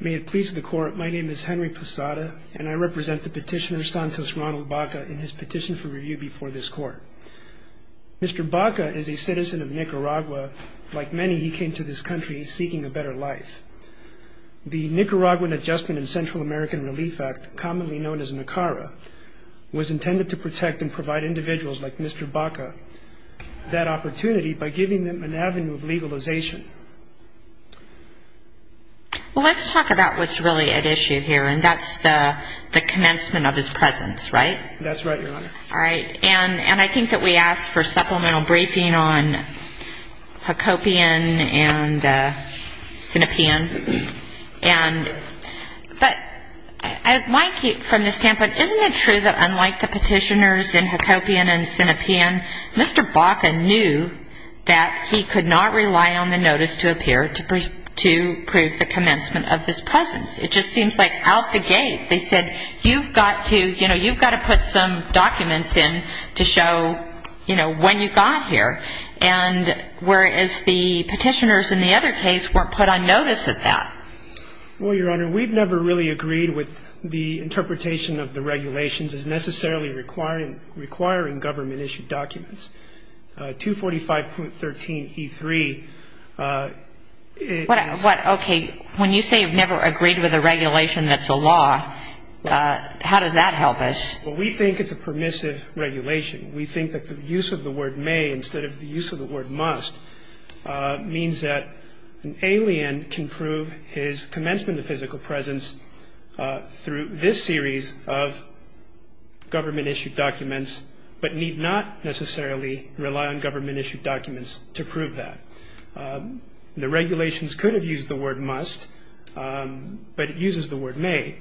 May it please the court, my name is Henry Posada, and I represent the petitioner Santos Ronald Baca in his petition for review before this court. Mr. Baca is a citizen of Nicaragua. Like many, he came to this country seeking a better life. The Nicaraguan Adjustment and Central American Relief Act, commonly known as NACARA, was intended to protect and provide individuals like Mr. Baca that opportunity by giving them an avenue of legalization. Well, let's talk about what's really at issue here, and that's the commencement of his presence, right? That's right, Your Honor. All right. And I think that we asked for supplemental briefing on Hacopian and Sinopean. But from the standpoint, isn't it true that unlike the petitioners in Hacopian and Sinopean, Mr. Baca knew that he could not rely on the notice to appear to prove the commencement of his presence? It just seems like out the gate. They said, you've got to put some documents in to show when you got here, and whereas the petitioners in the other case weren't put on notice of that. Well, Your Honor, we've never really agreed with the interpretation of the regulations as necessarily requiring government-issued documents. 245.13e3. Okay. When you say you've never agreed with a regulation that's a law, how does that help us? Well, we think it's a permissive regulation. We think that the use of the word may instead of the use of the word must means that an alien can prove his commencement and the physical presence through this series of government-issued documents, but need not necessarily rely on government-issued documents to prove that. The regulations could have used the word must, but it uses the word may.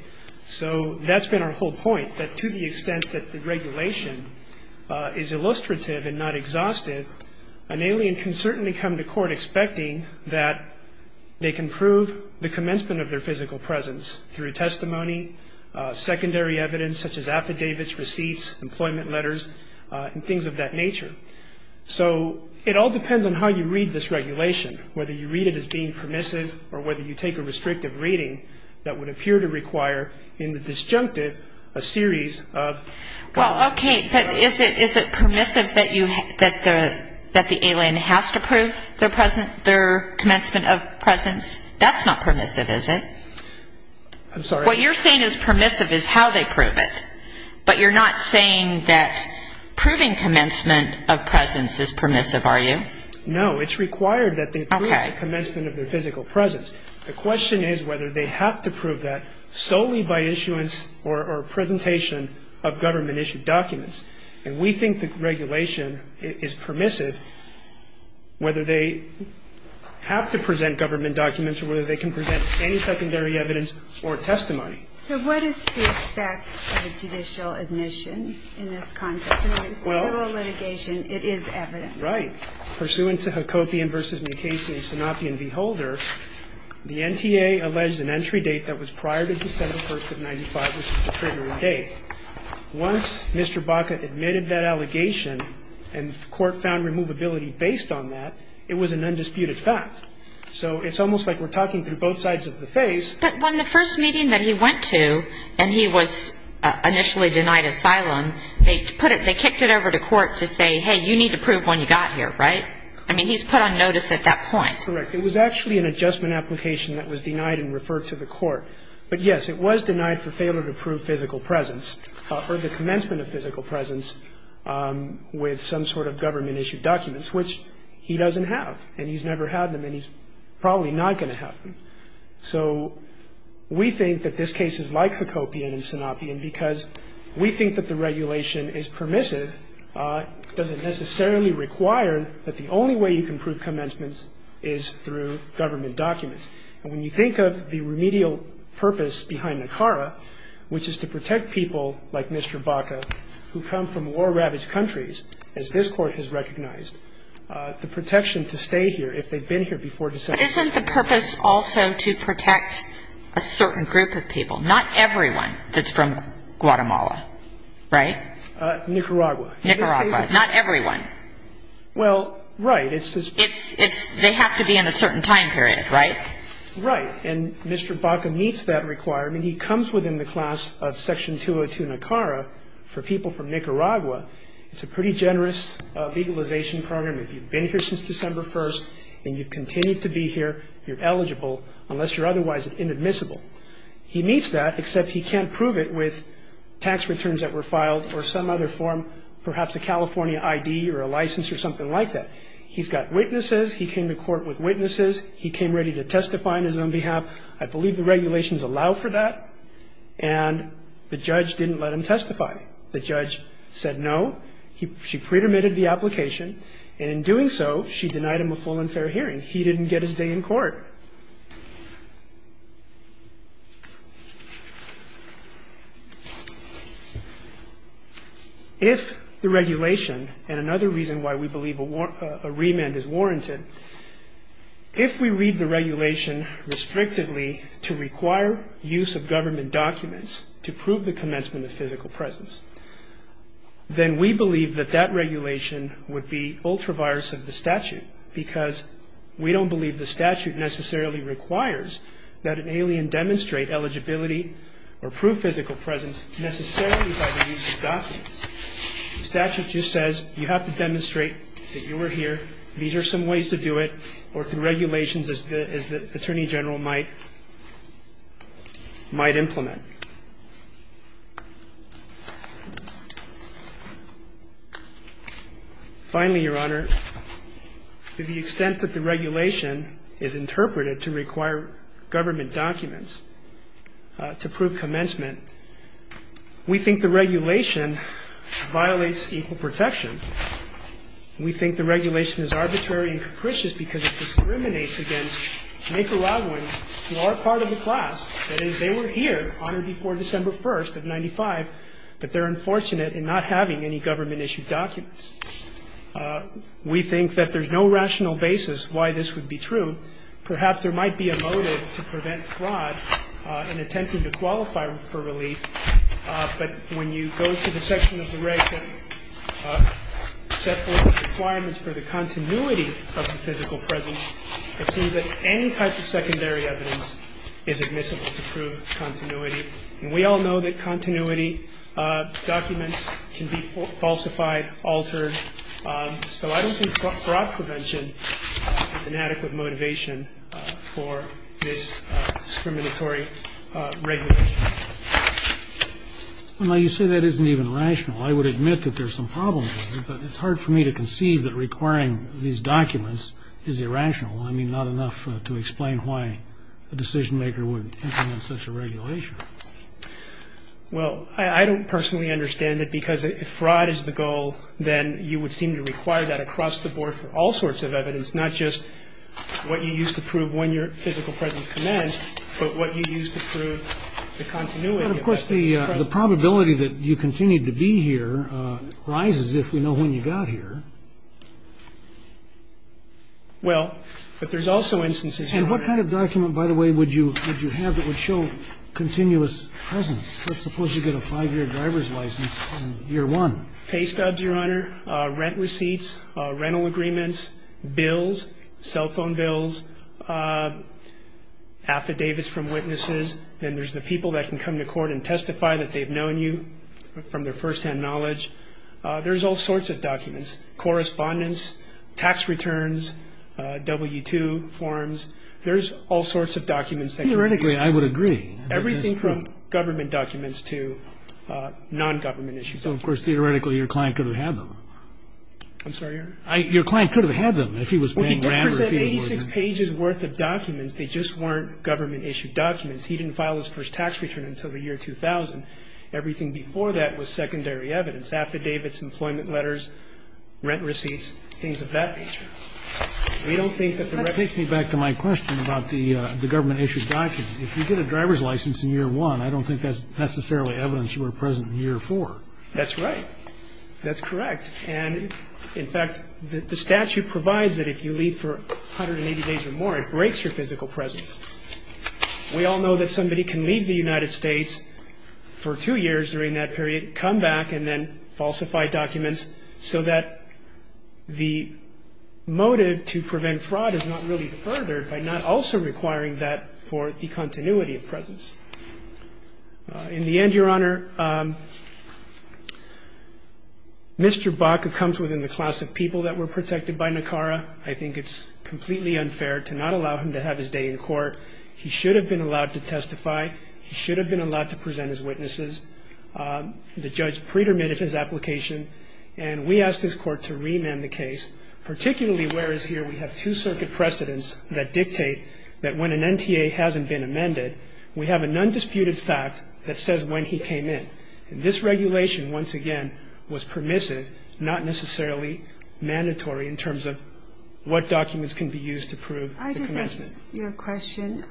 So that's been our whole point, that to the extent that the regulation is illustrative and not exhaustive, an alien can certainly come to court expecting that they can prove the commencement of their physical presence through testimony, secondary evidence such as affidavits, receipts, employment letters, and things of that nature. So it all depends on how you read this regulation, whether you read it as being permissive or whether you take a restrictive reading that would appear to require in the disjunctive a series of government- that the alien has to prove their commencement of presence. That's not permissive, is it? I'm sorry? What you're saying is permissive is how they prove it, but you're not saying that proving commencement of presence is permissive, are you? No, it's required that they prove the commencement of their physical presence. The question is whether they have to prove that solely by issuance or presentation of government-issued documents. And we think the regulation is permissive whether they have to present government documents or whether they can present any secondary evidence or testimony. So what is the effect of a judicial admission in this context? In a civil litigation, it is evidence. Right. Pursuant to Hacopian v. Mukasey and Sanapian v. Holder, the NTA alleged an entry date that was prior to December 1st of 1995, which is the triggering date. Once Mr. Baca admitted that allegation and the court found removability based on that, it was an undisputed fact. So it's almost like we're talking through both sides of the face. But when the first meeting that he went to, and he was initially denied asylum, they kicked it over to court to say, hey, you need to prove when you got here, right? I mean, he's put on notice at that point. Correct. It was actually an adjustment application that was denied and referred to the court. But, yes, it was denied for failure to prove physical presence or the commencement of physical presence with some sort of government-issued documents, which he doesn't have, and he's never had them, and he's probably not going to have them. So we think that this case is like Hacopian and Sanapian because we think that the regulation is permissive. It doesn't necessarily require that the only way you can prove commencements is through government documents. And when you think of the remedial purpose behind NACARA, which is to protect people like Mr. Baca who come from war-ravaged countries, as this Court has recognized, the protection to stay here if they've been here before December. But isn't the purpose also to protect a certain group of people? Not everyone that's from Guatemala, right? Nicaragua. Nicaragua. Not everyone. Well, right. They have to be in a certain time period, right? Right. And Mr. Baca meets that requirement. He comes within the class of Section 202 NACARA for people from Nicaragua. It's a pretty generous legalization program. If you've been here since December 1st and you've continued to be here, you're eligible, unless you're otherwise inadmissible. He meets that, except he can't prove it with tax returns that were filed or some other form, perhaps a California I.D. or a license or something like that. He's got witnesses. He came to court with witnesses. He came ready to testify on his own behalf. I believe the regulations allow for that. And the judge didn't let him testify. The judge said no. She pre-permitted the application. And in doing so, she denied him a full and fair hearing. He didn't get his day in court. If the regulation, and another reason why we believe a remand is warranted, if we read the regulation restrictively to require use of government documents to prove the commencement of physical presence, then we believe that that regulation would be ultra-virus of the statute because we don't believe the statute necessarily requires that an alien demonstrate eligibility or prove physical presence necessarily by the use of documents. The statute just says you have to demonstrate that you are here. These are some ways to do it or through regulations as the Attorney General might implement. Finally, Your Honor, to the extent that the regulation is interpreted to require government documents to prove commencement, we think the regulation violates equal protection. We think the regulation is arbitrary and capricious because it discriminates against Nicaraguans who are part of the class. That is, they were here on or before December 1st of 1995, but they're unfortunate in not having any government-issued documents. We think that there's no rational basis why this would be true. Perhaps there might be a motive to prevent fraud in attempting to qualify for relief, but when you go to the section of the reg that set forth requirements for the continuity of the physical presence, it seems that any type of secondary evidence is admissible to prove continuity. And we all know that continuity documents can be falsified, altered, so I don't think fraud prevention is an adequate motivation for this discriminatory regulation. Well, you say that isn't even rational. I would admit that there's some problem there, but it's hard for me to conceive that requiring these documents is irrational. I mean, not enough to explain why a decision-maker would implement such a regulation. Well, I don't personally understand it because if fraud is the goal, then you would seem to require that across the board for all sorts of evidence, not just what you use to prove when your physical presence commenced, but what you use to prove the continuity of the physical presence. But, of course, the probability that you continued to be here rises if we know when you got here. Well, but there's also instances... And what kind of document, by the way, would you have that would show continuous presence? Let's suppose you get a five-year driver's license in year one. Pay stubs, Your Honor, rent receipts, rental agreements, bills, cell phone bills, affidavits from witnesses, and there's the people that can come to court and testify that they've known you from their firsthand knowledge. There's all sorts of documents, correspondence, tax returns, W-2 forms. There's all sorts of documents that can be issued. Theoretically, I would agree. Everything from government documents to nongovernment-issued documents. So, of course, theoretically, your client could have had them. I'm sorry, Your Honor? Your client could have had them if he was paying rather than... Well, he did present 86 pages' worth of documents. They just weren't government-issued documents. He didn't file his first tax return until the year 2000. Everything before that was secondary evidence, affidavits, employment letters, rent receipts, things of that nature. We don't think that the record... That takes me back to my question about the government-issued document. If you get a driver's license in year one, I don't think that's necessarily evidence you were present in year four. That's right. That's correct. And, in fact, the statute provides that if you leave for 180 days or more, it breaks your physical presence. We all know that somebody can leave the United States for two years during that period, come back, and then falsify documents so that the motive to prevent fraud is not really furthered by not also requiring that for the continuity of presence. In the end, Your Honor, Mr. Baca comes within the class of people that were protected by NACARA. I think it's completely unfair to not allow him to have his day in court. He should have been allowed to testify. He should have been allowed to present his witnesses. The judge pre-dermitted his application, and we asked his court to remand the case, particularly whereas here we have two circuit precedents that dictate that when an NTA hasn't been amended, we have a nondisputed fact that says when he came in. And this regulation, once again, was permissive, not necessarily mandatory in terms of what documents can be used to prove the commencement. I just ask you a question.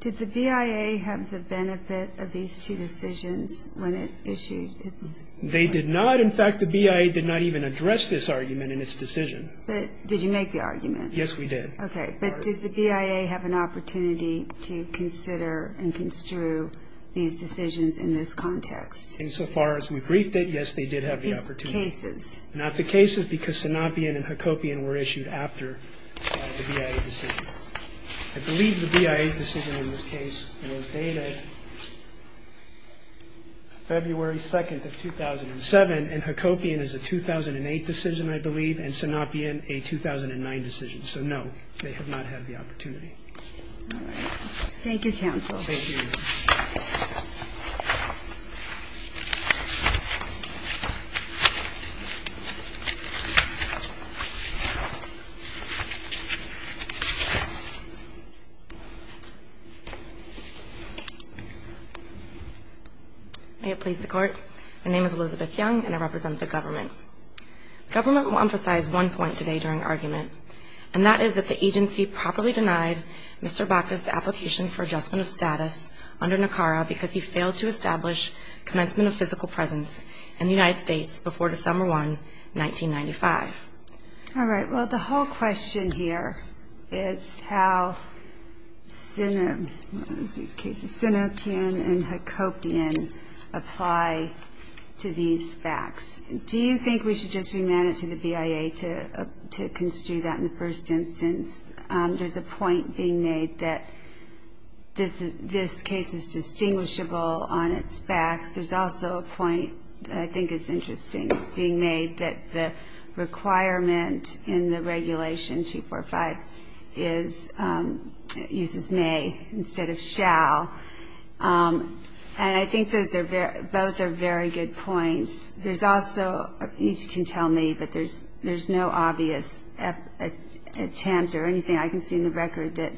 Did the BIA have the benefit of these two decisions when it issued its argument? They did not. In fact, the BIA did not even address this argument in its decision. But did you make the argument? Yes, we did. Okay. But did the BIA have an opportunity to consider and construe these decisions in this context? Insofar as we briefed it, yes, they did have the opportunity. These cases. Not the cases, because Sanapien and Hakopian were issued after the BIA decision. I believe the BIA's decision in this case was dated February 2nd of 2007, and Hakopian is a 2008 decision, I believe, and Sanapien a 2009 decision. So, no, they have not had the opportunity. All right. Thank you, counsel. Thank you. May it please the Court. My name is Elizabeth Young, and I represent the government. The government will emphasize one point today during argument, and that is that the agency properly denied Mr. Bacchus' application for adjustment of status under NACARA because he failed to establish commencement of physical presence in the United States before December 1, 1995. All right. Well, the whole question here is how Sanapien and Hakopian apply to these facts. Do you think we should just remand it to the BIA to construe that in the first instance? There's a point being made that this case is distinguishable on its facts. There's also a point that I think is interesting being made, that the requirement in the regulation 245 uses may instead of shall. And I think those are both very good points. There's also, you can tell me, but there's no obvious attempt or anything I can see in the record that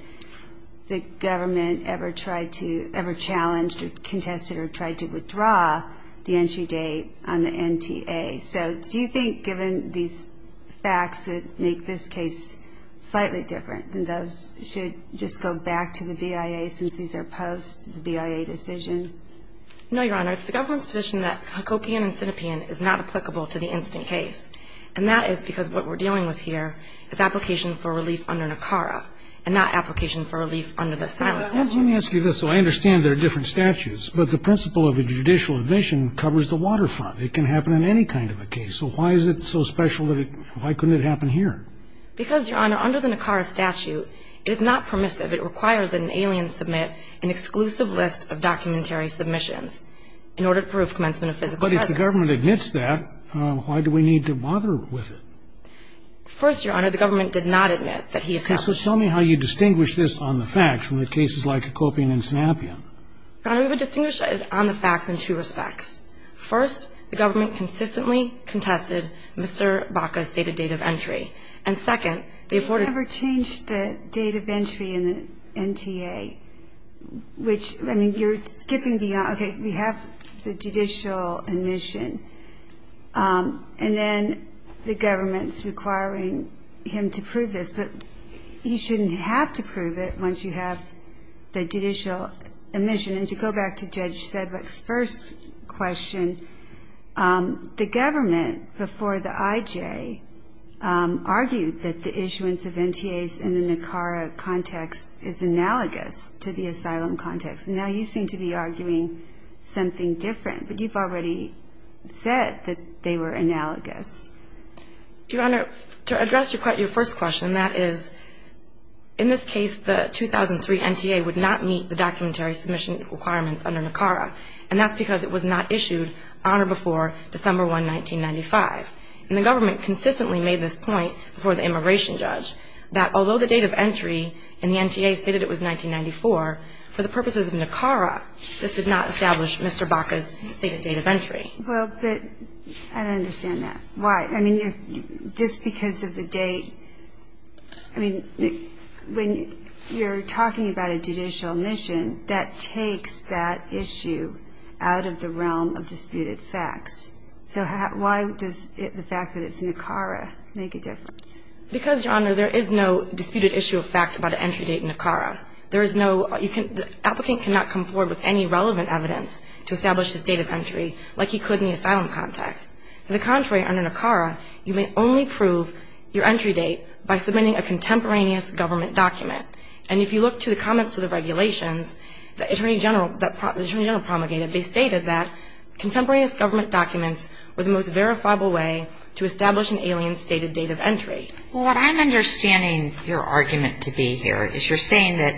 the government ever tried to, ever challenged or contested or tried to withdraw the entry date on the NTA. So do you think, given these facts that make this case slightly different, that those should just go back to the BIA since these are post-BIA decision? No, Your Honor. It's the government's position that Hakopian and Sanapien is not applicable to the instant case. And that is because what we're dealing with here is application for relief under NACARA and not application for relief under the silent statute. Let me ask you this, so I understand there are different statutes, but the principle of a judicial admission covers the waterfront. It can happen in any kind of a case. So why is it so special that it, why couldn't it happen here? Because, Your Honor, under the NACARA statute, it is not permissive. It requires that an alien submit an exclusive list of documentary submissions in order to prove commencement of physical presence. But if the government admits that, why do we need to bother with it? First, Your Honor, the government did not admit that he established. Okay. So tell me how you distinguish this on the facts from the cases like Hakopian and Sanapien. Your Honor, we would distinguish it on the facts in two respects. First, the government consistently contested Mr. Baca's stated date of entry. And second, they afforded. They never changed the date of entry in the NTA, which, I mean, you're skipping beyond, okay, so we have the judicial admission, and then the government's requiring him to prove this. But he shouldn't have to prove it once you have the judicial admission. And to go back to Judge Sedgwick's first question, the government, before the IJ, argued that the issuance of NTAs in the NACARA context is analogous to the asylum context. Now, you seem to be arguing something different. But you've already said that they were analogous. Your Honor, to address your first question, that is, in this case, the 2003 NTA would not meet the documentary submission requirements under NACARA. And that's because it was not issued on or before December 1, 1995. And the government consistently made this point before the immigration judge, that although the date of entry in the NTA stated it was 1994, for the purposes of NACARA, this did not establish Mr. Baca's stated date of entry. Well, but I don't understand that. Why? I mean, just because of the date. I mean, when you're talking about a judicial admission, that takes that issue out of the realm of disputed facts. So why does the fact that it's NACARA make a difference? Because, Your Honor, there is no disputed issue of fact about an entry date in NACARA. There is no – you can – the applicant cannot come forward with any relevant evidence to establish his date of entry like he could in the asylum context. To the contrary, under NACARA, you may only prove your entry date by submitting a contemporaneous government document. And if you look to the comments to the regulations that Attorney General – that Attorney What I'm understanding your argument to be here is you're saying that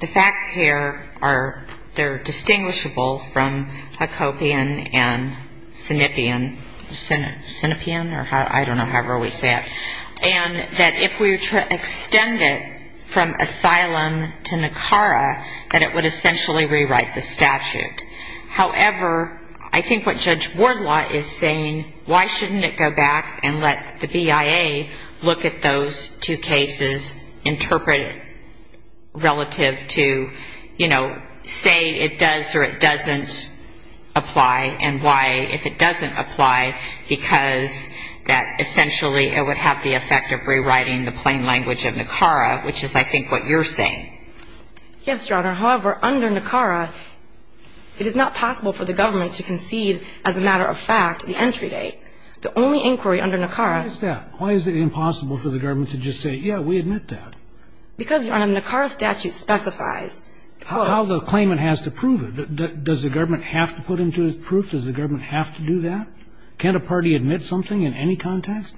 the facts here are – they're distinguishable from Hacopian and Sinnippian. Sinnippian? Or I don't know however we say it. And that if we were to extend it from asylum to NACARA, that it would essentially rewrite the statute. However, I think what Judge Ward wants to do, why shouldn't it go back and let the BIA look at those two cases, interpret it relative to, you know, say it does or it doesn't apply, and why if it doesn't apply, because that essentially it would have the effect of rewriting the plain language of NACARA, which is I think what you're saying. Yes, Your Honor. However, under NACARA, it is not possible for the government to concede as a matter of fact the entry date. The only inquiry under NACARA – Why is that? Why is it impossible for the government to just say, yeah, we admit that? Because, Your Honor, NACARA statute specifies – How the claimant has to prove it. Does the government have to put into it proof? Does the government have to do that? Can't a party admit something in any context?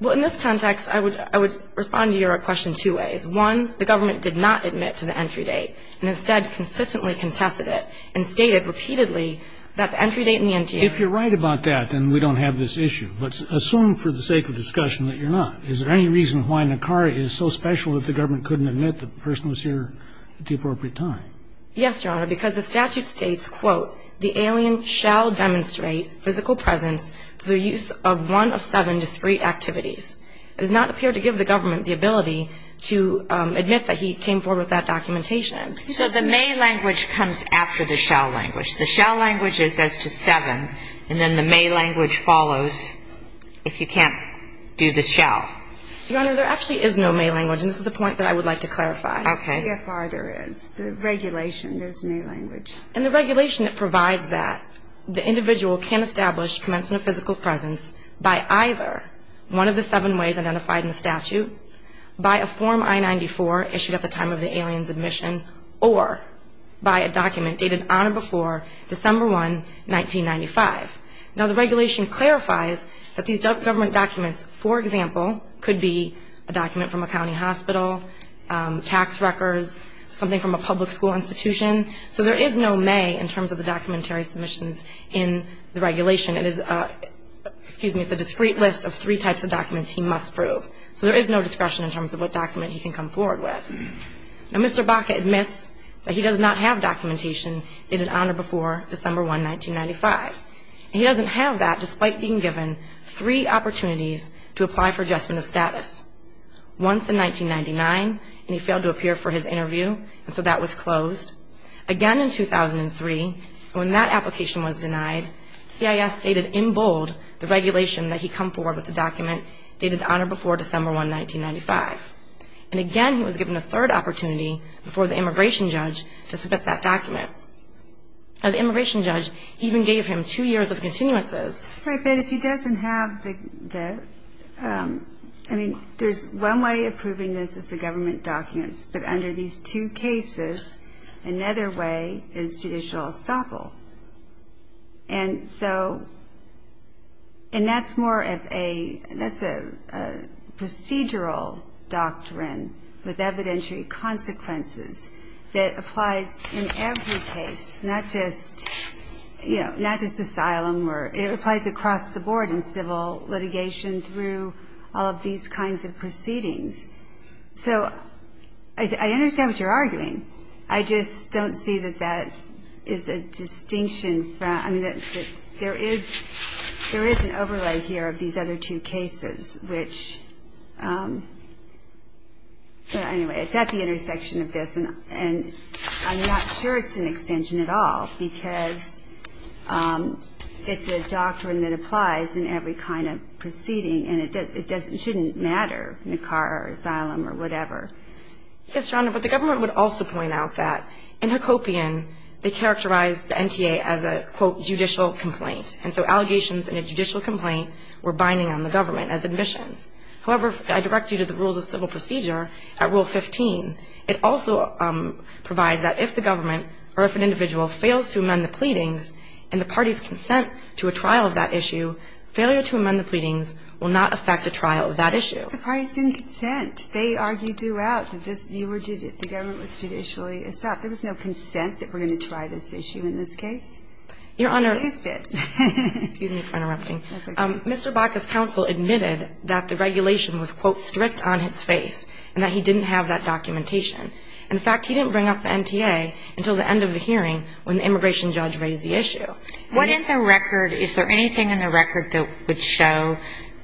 Well, in this context, I would respond to your question two ways. One, the government did not admit to the entry date. And instead consistently contested it and stated repeatedly that the entry date in the NTA – If you're right about that, then we don't have this issue. But assume for the sake of discussion that you're not. Is there any reason why NACARA is so special that the government couldn't admit the person was here at the appropriate time? Yes, Your Honor, because the statute states, quote, the alien shall demonstrate physical presence through the use of one of seven discrete activities. It does not appear to give the government the ability to admit that he came forward with that documentation. So the may language comes after the shall language. The shall language is as to seven, and then the may language follows if you can't do the shall. Your Honor, there actually is no may language, and this is a point that I would like to clarify. Okay. See how far there is. The regulation, there's may language. In the regulation, it provides that the individual can establish commencement of physical presence by either one of the seven ways identified in the statute, by a Form I-94 issued at the time of the alien's admission, or by a document dated on or before December 1, 1995. Now, the regulation clarifies that these government documents, for example, could be a document from a county hospital, tax records, something from a public school institution. So there is no may in terms of the documentary submissions in the regulation. It is a discrete list of three types of documents he must prove. So there is no discretion in terms of what document he can come forward with. Now, Mr. Baca admits that he does not have documentation dated on or before December 1, 1995. He doesn't have that despite being given three opportunities to apply for adjustment of status. Once in 1999, and he failed to appear for his interview, and so that was closed. Again in 2003, when that application was denied, CIS stated in bold the regulation that he come forward with a document dated on or before December 1, 1995. And again, he was given a third opportunity before the immigration judge to submit that document. Now, the immigration judge even gave him two years of continuances. Right, but if he doesn't have the ñ I mean, there's one way of proving this is the government documents. But under these two cases, another way is judicial estoppel. And so ñ and that's more of a ñ that's a procedural doctrine with evidentiary consequences that applies in every case, not just ñ you know, not just asylum. It applies across the board in civil litigation through all of these kinds of proceedings. So I understand what you're arguing. I just don't see that that is a distinction from ñ I mean, there is an overlay here of these other two cases, which ñ but anyway, it's at the intersection of this, and I'm not sure it's an extension at all because it's a doctrine that applies in every kind of proceeding, and it doesn't ñ it shouldn't matter in a car or asylum or whatever. Yes, Your Honor, but the government would also point out that in Hacopian, they characterized the NTA as a, quote, judicial complaint. And so allegations in a judicial complaint were binding on the government as admissions. However, I direct you to the rules of civil procedure at Rule 15. It also provides that if the government or if an individual fails to amend the pleadings and the party's consent to a trial of that issue, failure to amend the pleadings will not affect a trial of that issue. But the parties didn't consent. They argued throughout that this ñ you were ñ the government was judicially ñ stop. There was no consent that we're going to try this issue in this case. Your Honor ñ At least it. Excuse me for interrupting. That's okay. Mr. Baca's counsel admitted that the regulation was, quote, strict on his face and that he didn't have that documentation. In fact, he didn't bring up the NTA until the end of the hearing when the immigration judge raised the issue. What in the record ñ is there anything in the record that would show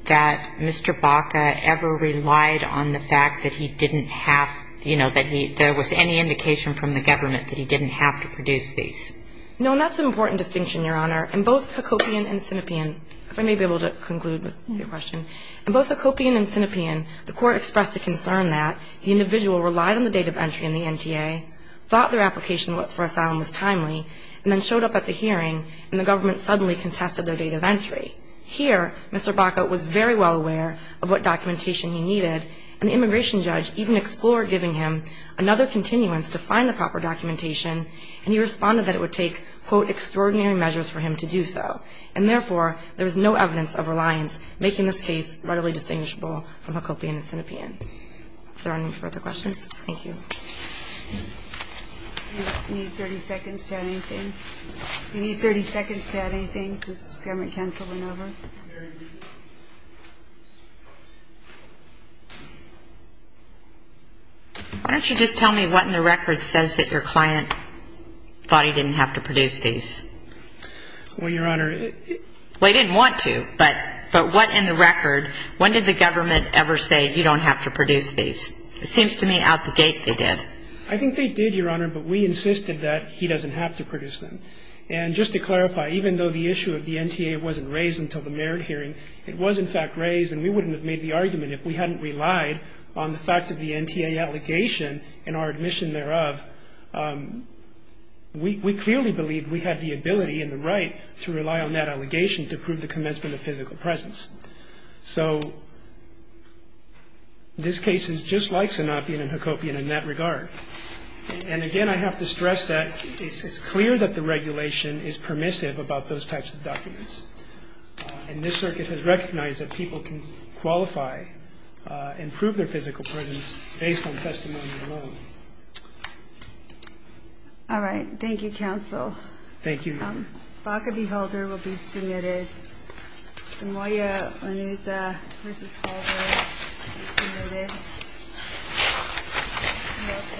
that Mr. Baca ever relied on the fact that he didn't have ñ you know, that he ñ there was any indication from the government that he didn't have to produce these? No, and that's an important distinction, Your Honor. In both Hacopian and Sinopean ñ if I may be able to conclude with your question. In both Hacopian and Sinopean, the court expressed a concern that the individual relied on the date of entry in the NTA, thought their application for asylum was timely, and then showed up at the hearing, and the government suddenly contested their date of entry. Here, Mr. Baca was very well aware of what documentation he needed, and the immigration judge even explored giving him another continuance to find the proper documentation, and he responded that it would take, quote, extraordinary measures for him to do so. And therefore, there is no evidence of reliance, making this case readily distinguishable from Hacopian and Sinopean. Is there any further questions? Thank you. Do you need 30 seconds to add anything? Do you need 30 seconds to add anything to this government-canceled maneuver? Why don't you just tell me what in the record says that your client thought he didn't have to produce these? Well, Your Honor, it... Well, he didn't want to, but what in the record, when did the government ever say you don't have to produce these? It seems to me out the gate they did. I think they did, Your Honor, but we insisted that he doesn't have to produce them. And just to clarify, even though the issue of the NTA wasn't raised until the merit hearing, it was in fact raised, and we wouldn't have made the argument if we hadn't relied on the fact of the NTA allegation and our admission thereof, we clearly believed we had the ability and the right to rely on that allegation to prove the commencement of physical presence. So this case is just like Sinopean and Hacopian in that regard. And again, I have to stress that it's clear that the regulation is permissive about those types of documents. And this circuit has recognized that people can qualify and prove their physical presence based on testimony alone. All right. Thank you, counsel. Thank you, Your Honor. Baca v. Holder will be submitted. Samoya Onuza v. Holder will be submitted. And we'll pick up Chris Escobar v. Holder.